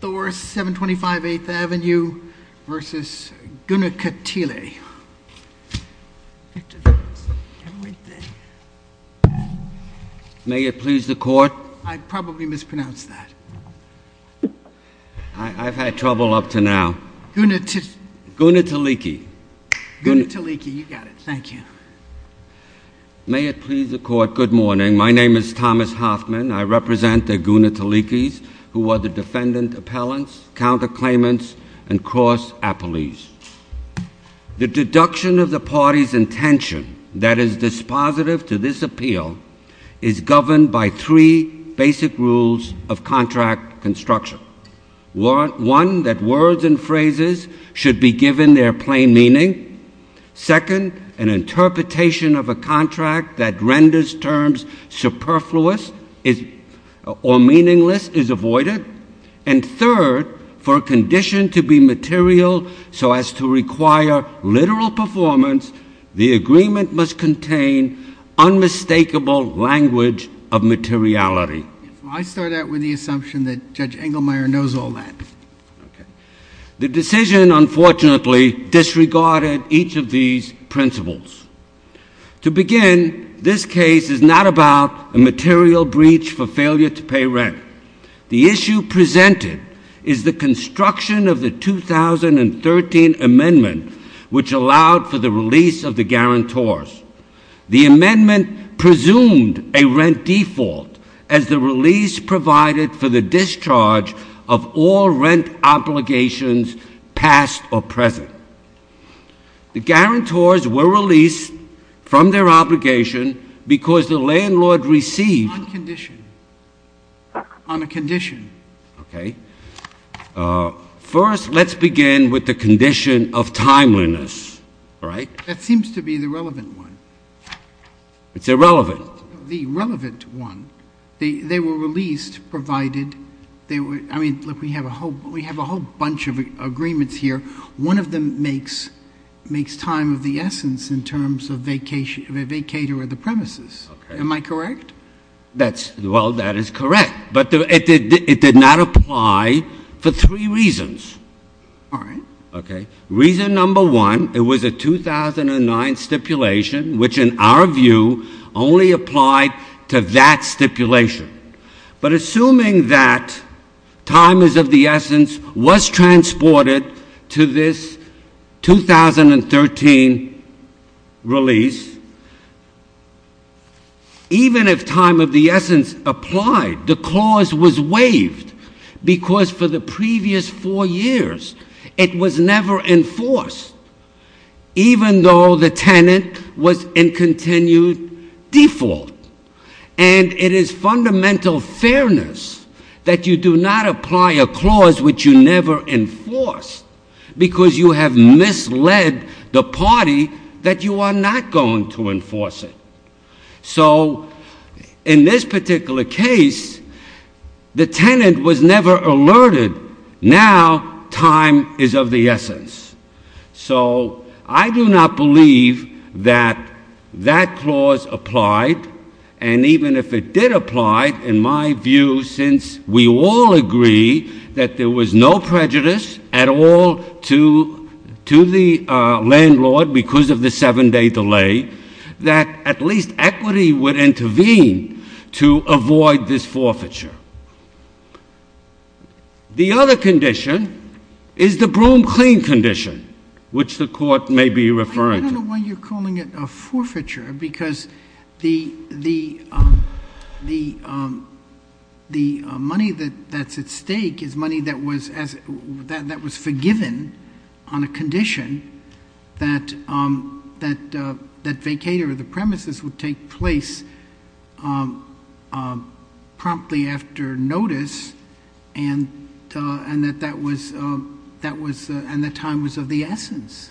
Thors 725 8th Avenue v. Guna Katili. May it please the court. I probably mispronounced that. I've had trouble up to now. Guna Taliki. Guna Taliki, you got it. Thank you. May it please the court. Good morning. My name is Thomas Hoffman. I represent the Guna Talikis who are the defendant appellants, counterclaimants, and cross appellees. The deduction of the party's intention that is dispositive to this appeal is governed by three basic rules of contract construction. One, that words and phrases should be given their plain meaning. Second, an interpretation of a contract that renders terms superfluous or meaningless is avoided. And third, for a condition to be material so as to require literal performance, the agreement must contain unmistakable language of materiality. I start out with the assumption that Judge Engelmeyer knows all that. The decision, unfortunately, disregarded each of these principles. To begin, this case is not about a material breach for failure to The issue presented is the construction of the 2013 amendment which allowed for the release of the guarantors. The amendment presumed a rent default as the release provided for the discharge of all rent obligations past or present. The guarantors were released from their obligation because the landlord received On condition. On a condition. Okay. First, let's begin with the condition of timeliness, all right? That seems to be the relevant one. It's irrelevant. The relevant one. They were released provided they were, I mean, look, we have a whole bunch of agreements here. One of them makes time of the essence in terms of a vacator of the premises. Am I correct? That's, well, that is correct. But it did not apply for three reasons. All right. Reason number one, it was a 2009 stipulation which, in our view, only applied to that stipulation. But assuming that time is of the essence was transported to this 2013 release, even if time of the essence applied, the clause was waived because for the previous four years it was never enforced, even though the tenant was in continued default. And it is fundamental fairness that you do not apply a clause which you never enforced because you have misled the party that you are not going to enforce it. So in this particular case, the tenant was never alerted. Now time is of the essence. So I do not believe that that clause applied. And even if it did apply, in my view, since we all agree that there was no prejudice at all to the landlord because of the seven-day delay, that at least equity would intervene to avoid this forfeiture. The other condition is the broom-clean condition, which the Court may be referring to. I don't know why you're calling it a forfeiture because the money that's at stake is money that was promptly after notice and that time was of the essence.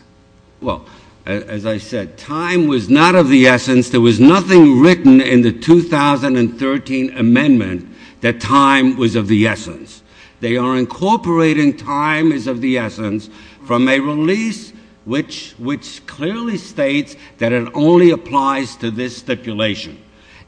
Well, as I said, time was not of the essence. There was nothing written in the 2013 amendment that time was of the essence. They are incorporating time is of the essence from a release which clearly states that it only applies to this stipulation.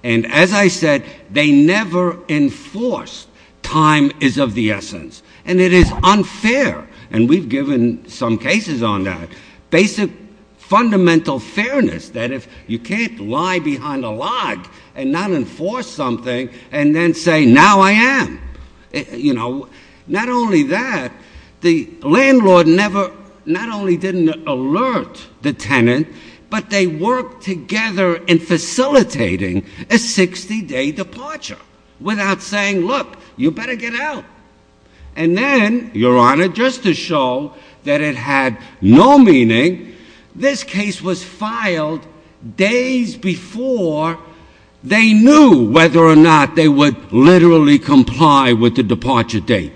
And as I said, they never enforced time is of the essence. And it is unfair. And we've given some cases on that. Basic fundamental fairness, that if you can't lie behind a log and not enforce something and then say, now I am. You know, not only that, the landlord never, not only didn't alert the tenant, but they worked together in facilitating a 60-day departure without saying, look, you better get out. And then, Your Honor, just to show that it had no meaning, this case was filed days before they knew whether or not they would literally comply with the departure date.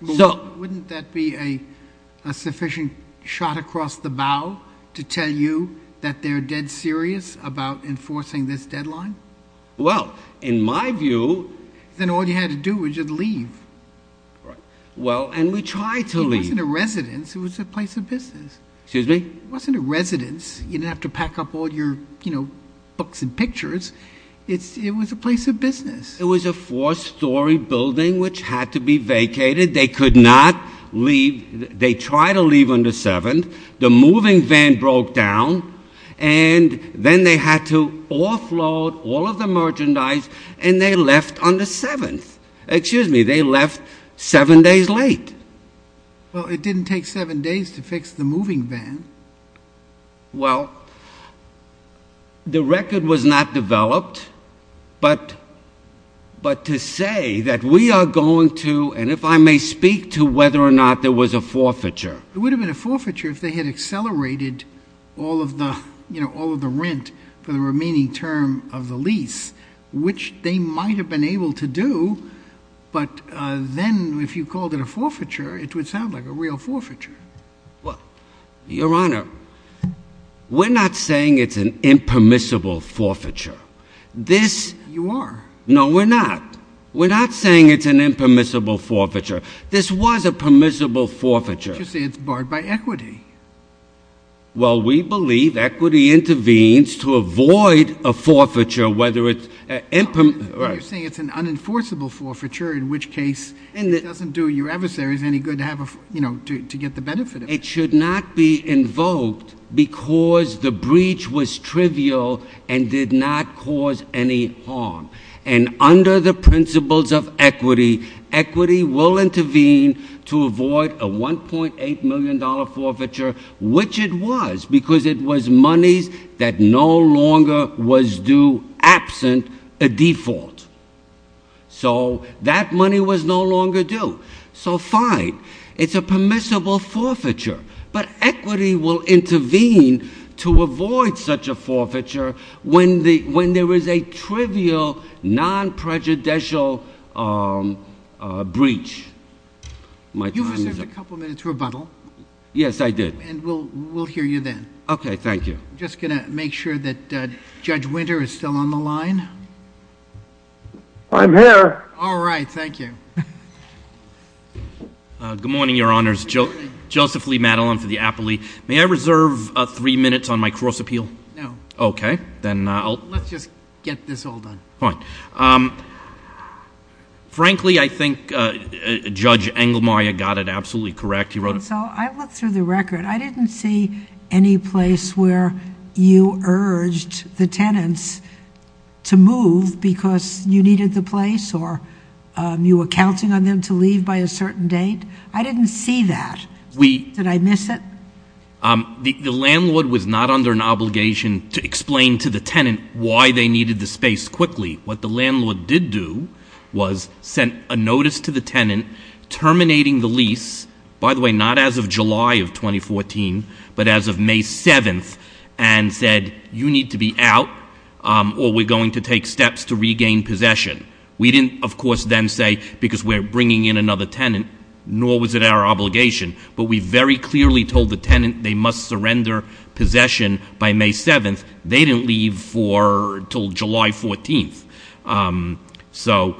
Wouldn't that be a sufficient shot across the bow to tell you that they're dead serious about enforcing this deadline? Well, in my view. Then all you had to do was just leave. Right. Well, and we tried to leave. It wasn't a residence. It was a place of business. Excuse me? It wasn't a residence. You didn't have to pack up all your books and pictures. It was a place of business. It was a four-story building which had to be vacated. They could not leave. They tried to leave on the 7th. The moving van broke down, and then they had to offload all of the merchandise, and they left on the 7th. Excuse me, they left seven days late. Well, it didn't take seven days to fix the moving van. Well, the record was not developed, but to say that we are going to, and if I may speak to whether or not there was a forfeiture. It would have been a forfeiture if they had accelerated all of the rent for the remaining term of the lease, which they might have been able to do, but then if you called it a forfeiture, it would sound like a real forfeiture. Well, Your Honor, we're not saying it's an impermissible forfeiture. You are. No, we're not. We're not saying it's an impermissible forfeiture. This was a permissible forfeiture. But you say it's barred by equity. Well, we believe equity intervenes to avoid a forfeiture whether it's – You're saying it's an unenforceable forfeiture, in which case it doesn't do your adversaries any good to get the benefit of it. It should not be invoked because the breach was trivial and did not cause any harm. And under the principles of equity, equity will intervene to avoid a $1.8 million forfeiture, which it was because it was monies that no longer was due absent a default. So that money was no longer due. So fine, it's a permissible forfeiture, but equity will intervene to avoid such a forfeiture when there is a trivial, non-prejudicial breach. You've reserved a couple minutes for rebuttal. Yes, I did. And we'll hear you then. Okay, thank you. I'm just going to make sure that Judge Winter is still on the line. I'm here. All right, thank you. Good morning, Your Honors. Good morning. Joseph Lee Madelon for the appellee. May I reserve three minutes on my cross appeal? No. Okay, then I'll— Let's just get this all done. Fine. Frankly, I think Judge Engelmayer got it absolutely correct. He wrote— So I looked through the record. I didn't see any place where you urged the tenants to move because you needed the place or you were counting on them to leave by a certain date. I didn't see that. Did I miss it? The landlord was not under an obligation to explain to the tenant why they needed the space quickly. What the landlord did do was send a notice to the tenant terminating the lease, by the way, not as of July of 2014, but as of May 7th, and said, you need to be out or we're going to take steps to regain possession. We didn't, of course, then say because we're bringing in another tenant, nor was it our obligation, but we very clearly told the tenant they must surrender possession by May 7th. They didn't leave until July 14th. So,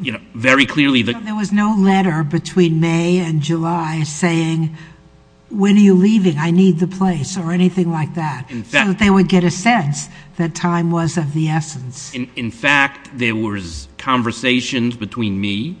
you know, very clearly— There was no letter between May and July saying, when are you leaving? I need the place or anything like that. In fact— So that they would get a sense that time was of the essence. In fact, there was conversations between me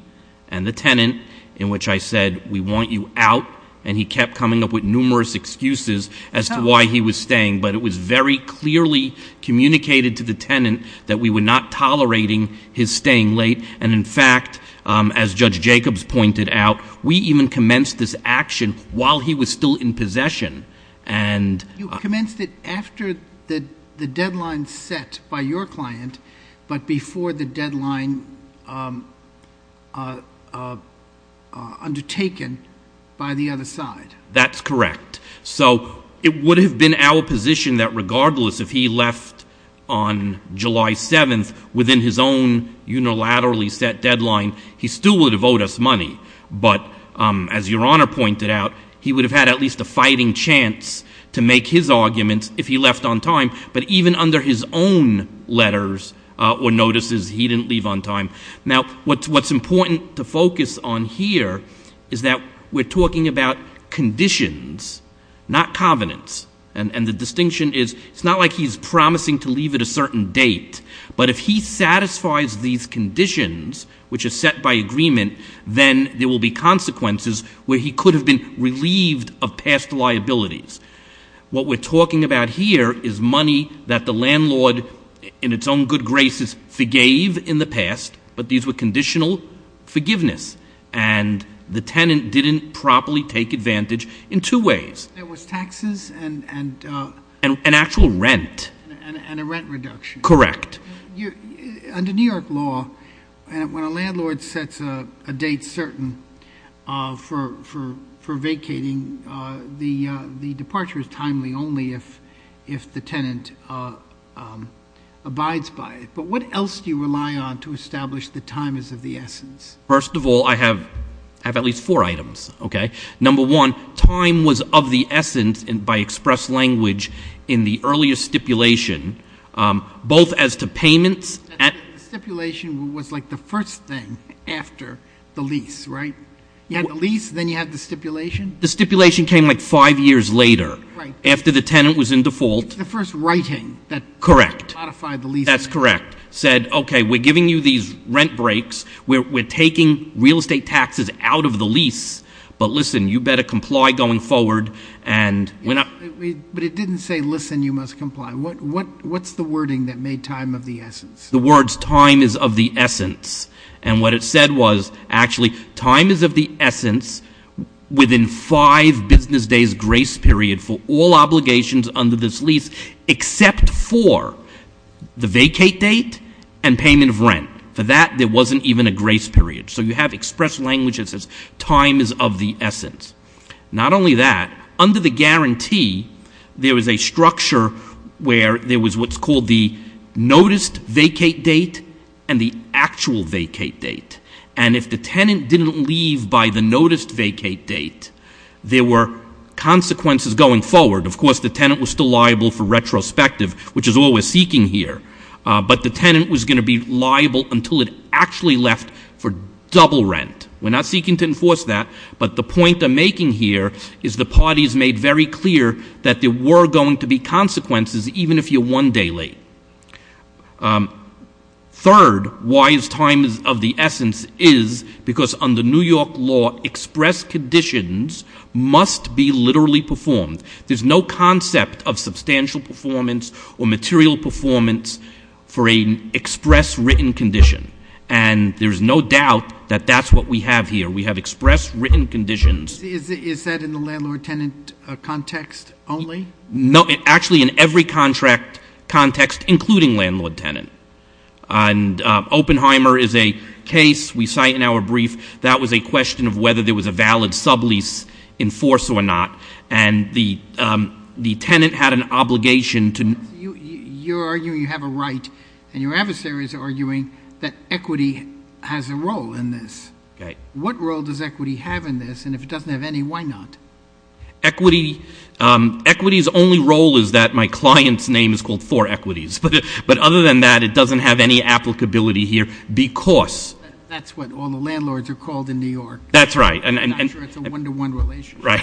and the tenant in which I said, we want you out, and he kept coming up with numerous excuses as to why he was staying. But it was very clearly communicated to the tenant that we were not tolerating his staying late. And, in fact, as Judge Jacobs pointed out, we even commenced this action while he was still in possession. You commenced it after the deadline set by your client, but before the deadline undertaken by the other side. That's correct. So it would have been our position that regardless if he left on July 7th, within his own unilaterally set deadline, he still would have owed us money. But, as Your Honor pointed out, he would have had at least a fighting chance to make his arguments if he left on time. But even under his own letters or notices, he didn't leave on time. Now, what's important to focus on here is that we're talking about conditions, not covenants. And the distinction is, it's not like he's promising to leave at a certain date. But if he satisfies these conditions, which are set by agreement, then there will be consequences where he could have been relieved of past liabilities. What we're talking about here is money that the landlord, in its own good graces, forgave in the past, but these were conditional forgiveness. And the tenant didn't properly take advantage in two ways. There was taxes and— And actual rent. And a rent reduction. Correct. Under New York law, when a landlord sets a date certain for vacating, the departure is timely only if the tenant abides by it. But what else do you rely on to establish that time is of the essence? First of all, I have at least four items. Number one, time was of the essence by express language in the earlier stipulation, both as to payments— The stipulation was like the first thing after the lease, right? You had the lease, then you had the stipulation. The stipulation came like five years later, after the tenant was in default. It's the first writing that modified the lease. That's correct. It said, okay, we're giving you these rent breaks, we're taking real estate taxes out of the lease, but listen, you better comply going forward. But it didn't say, listen, you must comply. What's the wording that made time of the essence? The words, time is of the essence. And what it said was, actually, time is of the essence within five business days grace period for all obligations under this lease, except for the vacate date and payment of rent. For that, there wasn't even a grace period. So you have express language that says time is of the essence. Not only that, under the guarantee, there was a structure where there was what's called the noticed vacate date and the actual vacate date. And if the tenant didn't leave by the noticed vacate date, there were consequences going forward. Of course, the tenant was still liable for retrospective, which is all we're seeking here. But the tenant was going to be liable until it actually left for double rent. We're not seeking to enforce that, but the point I'm making here is the parties made very clear that there were going to be consequences, even if you're one day late. Third, why is time of the essence is because under New York law, express conditions must be literally performed. There's no concept of substantial performance or material performance for an express written condition. And there's no doubt that that's what we have here. We have express written conditions. Is that in the landlord-tenant context only? No, actually in every contract context, including landlord-tenant. And Oppenheimer is a case we cite in our brief. That was a question of whether there was a valid sublease in force or not. And the tenant had an obligation to. You're arguing you have a right, and your adversary is arguing that equity has a role in this. What role does equity have in this? And if it doesn't have any, why not? Equity's only role is that my client's name is called for equities. But other than that, it doesn't have any applicability here because. That's what all the landlords are called in New York. That's right. I'm not sure it's a one-to-one relationship. Right.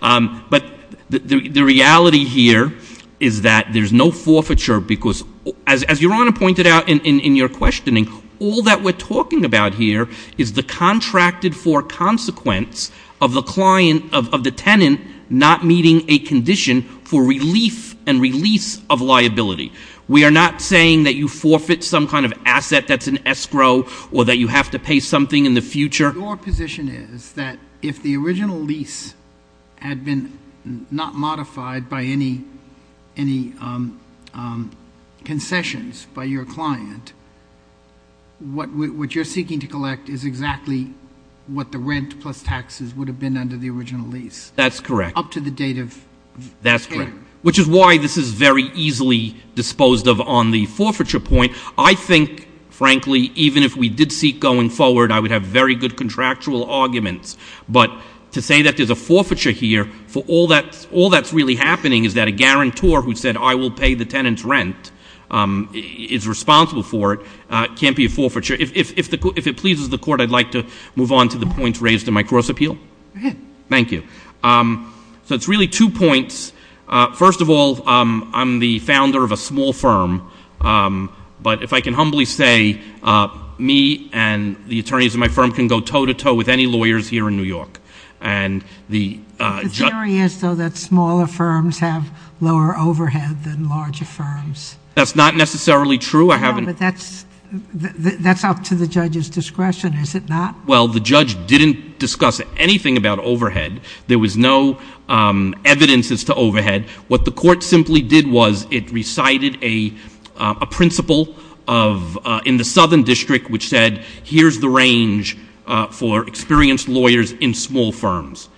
But the reality here is that there's no forfeiture because, as Your Honor pointed out in your questioning, all that we're talking about here is the contracted for consequence of the tenant not meeting a condition for relief and release of liability. We are not saying that you forfeit some kind of asset that's an escrow or that you have to pay something in the future. Your position is that if the original lease had been not modified by any concessions by your client, what you're seeking to collect is exactly what the rent plus taxes would have been under the original lease. That's correct. Up to the date of payment. That's correct, which is why this is very easily disposed of on the forfeiture point. I think, frankly, even if we did seek going forward, I would have very good contractual arguments. But to say that there's a forfeiture here for all that's really happening is that a guarantor who said, I will pay the tenant's rent, is responsible for it, can't be a forfeiture. If it pleases the Court, I'd like to move on to the points raised in my gross appeal. Go ahead. Thank you. So it's really two points. First of all, I'm the founder of a small firm. But if I can humbly say, me and the attorneys in my firm can go toe-to-toe with any lawyers here in New York. The theory is, though, that smaller firms have lower overhead than larger firms. That's not necessarily true. That's up to the judge's discretion, is it not? Well, the judge didn't discuss anything about overhead. There was no evidences to overhead. What the Court simply did was it recited a principle in the Southern District which said, here's the range for experienced lawyers in small firms.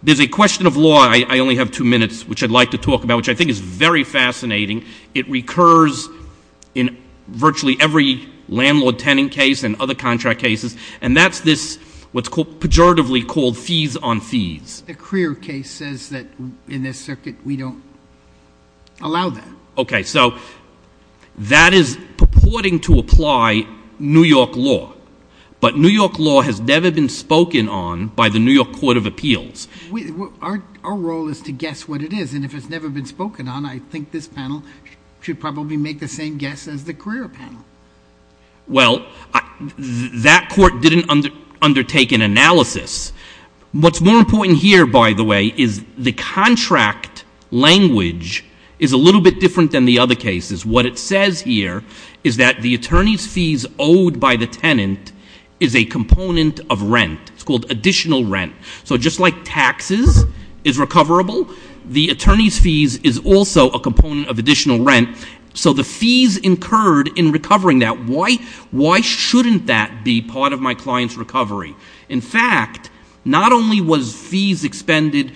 There's a question of law I only have two minutes, which I'd like to talk about, which I think is very fascinating. It recurs in virtually every landlord-tenant case and other contract cases, and that's this what's pejoratively called fees on fees. The Crear case says that in this circuit we don't allow that. Okay. So that is purporting to apply New York law, but New York law has never been spoken on by the New York Court of Appeals. Our role is to guess what it is, and if it's never been spoken on, I think this panel should probably make the same guess as the Crear panel. Well, that court didn't undertake an analysis. What's more important here, by the way, is the contract language is a little bit different than the other cases. What it says here is that the attorney's fees owed by the tenant is a component of rent. It's called additional rent. So just like taxes is recoverable, the attorney's fees is also a component of additional rent. So the fees incurred in recovering that, why shouldn't that be part of my client's recovery? In fact, not only was fees expended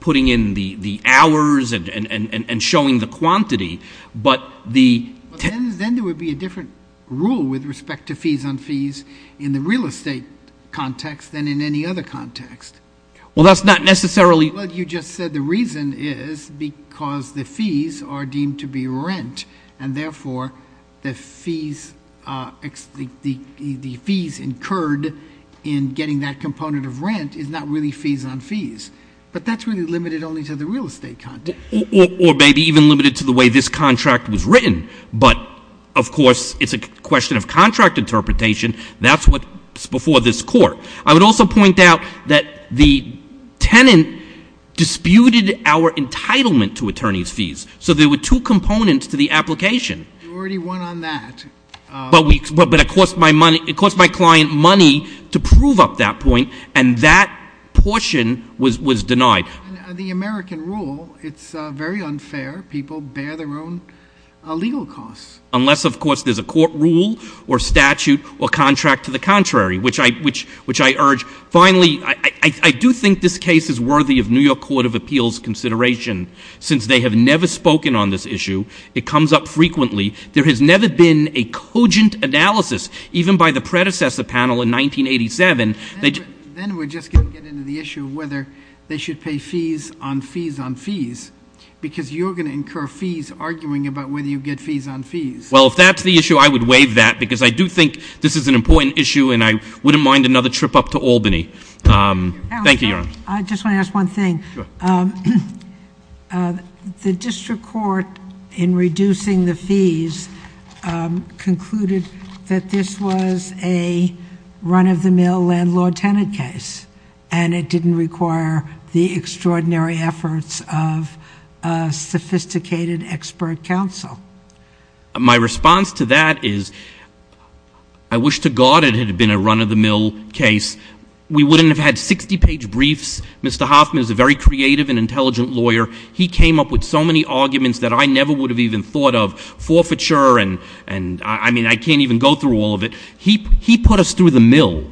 putting in the hours and showing the quantity, but the — Then there would be a different rule with respect to fees on fees in the real estate context than in any other context. Well, that's not necessarily — Well, you just said the reason is because the fees are deemed to be rent, and therefore the fees incurred in getting that component of rent is not really fees on fees. But that's really limited only to the real estate context. Or maybe even limited to the way this contract was written. But, of course, it's a question of contract interpretation. That's what's before this court. I would also point out that the tenant disputed our entitlement to attorney's fees. So there were two components to the application. You already went on that. But it cost my client money to prove up that point, and that portion was denied. The American rule, it's very unfair. People bear their own legal costs. Unless, of course, there's a court rule or statute or contract to the contrary, which I urge. Finally, I do think this case is worthy of New York Court of Appeals' consideration. Since they have never spoken on this issue, it comes up frequently. There has never been a cogent analysis, even by the predecessor panel in 1987. Then we're just going to get into the issue of whether they should pay fees on fees on fees, because you're going to incur fees arguing about whether you get fees on fees. Well, if that's the issue, I would waive that, because I do think this is an important issue, and I wouldn't mind another trip up to Albany. Thank you, Your Honor. I just want to ask one thing. The district court, in reducing the fees, concluded that this was a run-of-the-mill landlord-tenant case, and it didn't require the extraordinary efforts of sophisticated expert counsel. My response to that is I wish to God it had been a run-of-the-mill case. We wouldn't have had 60-page briefs. Mr. Hoffman is a very creative and intelligent lawyer. He came up with so many arguments that I never would have even thought of, forfeiture and I mean I can't even go through all of it. He put us through the mill,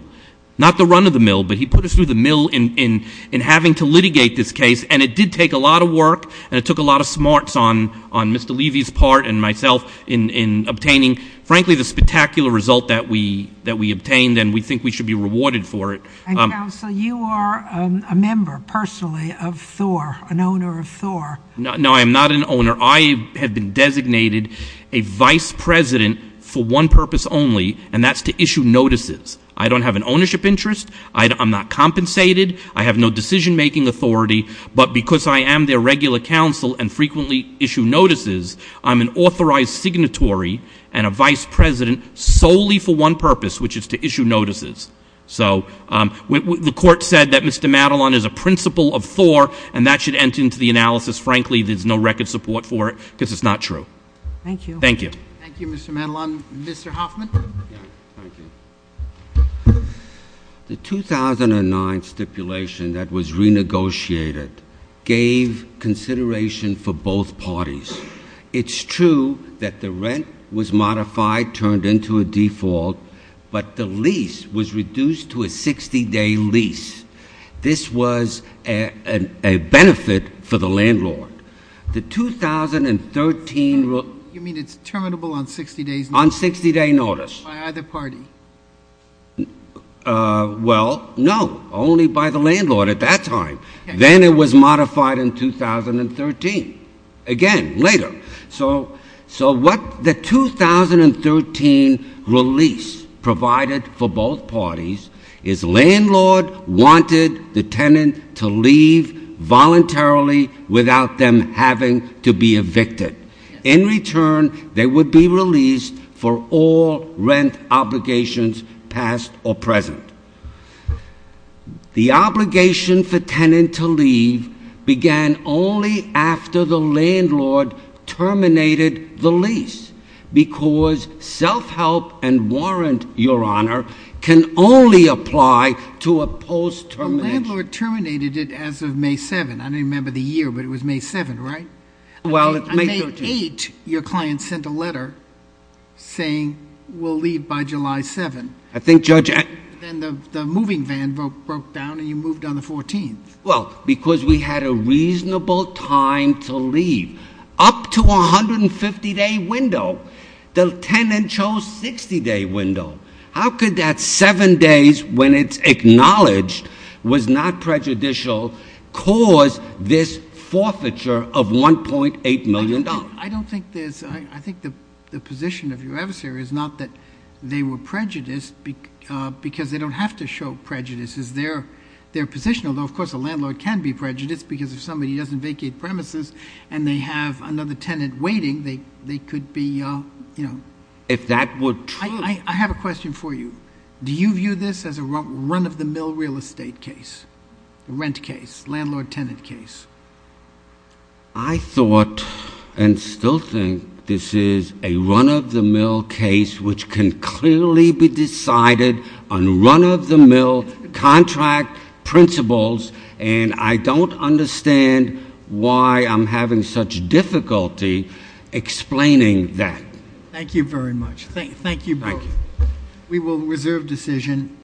not the run-of-the-mill, but he put us through the mill in having to litigate this case, and it did take a lot of work, and it took a lot of smarts on Mr. Levy's part and myself in obtaining, frankly, the spectacular result that we obtained, and we think we should be rewarded for it. And, counsel, you are a member, personally, of Thor, an owner of Thor. No, I am not an owner. I have been designated a vice president for one purpose only, and that's to issue notices. I don't have an ownership interest. I'm not compensated. I have no decision-making authority, but because I am their regular counsel and frequently issue notices, I'm an authorized signatory and a vice president solely for one purpose, which is to issue notices. So the court said that Mr. Madelon is a principal of Thor, and that should enter into the analysis. Frankly, there's no record support for it because it's not true. Thank you. Thank you. Thank you, Mr. Madelon. Mr. Hoffman. The 2009 stipulation that was renegotiated gave consideration for both parties. It's true that the rent was modified, turned into a default, but the lease was reduced to a 60-day lease. This was a benefit for the landlord. The 2013 rule. You mean it's terminable on 60-day notice? On 60-day notice. By either party? Well, no, only by the landlord at that time. Then it was modified in 2013. Again, later. So what the 2013 release provided for both parties is landlord wanted the tenant to leave voluntarily without them having to be evicted. In return, they would be released for all rent obligations, past or present. The obligation for tenant to leave began only after the landlord terminated the lease because self-help and warrant, Your Honor, can only apply to a post-termination. The landlord terminated it as of May 7th. I don't remember the year, but it was May 7th, right? Well, it's May 7th. On May 8th, your client sent a letter saying we'll leave by July 7th. Then the moving van broke down and you moved on the 14th. Well, because we had a reasonable time to leave. Up to 150-day window. The tenant chose 60-day window. How could that seven days when it's acknowledged was not prejudicial cause this forfeiture of $1.8 million? I don't think there's—I think the position of your adversary is not that they were prejudiced because they don't have to show prejudice. It's their position, although of course a landlord can be prejudiced because if somebody doesn't vacate premises and they have another tenant waiting, they could be— If that were true— I have a question for you. Do you view this as a run-of-the-mill real estate case, rent case, landlord-tenant case? I thought and still think this is a run-of-the-mill case which can clearly be decided on run-of-the-mill contract principles, and I don't understand why I'm having such difficulty explaining that. Thank you very much. Thank you both. Thank you. We will reserve decision.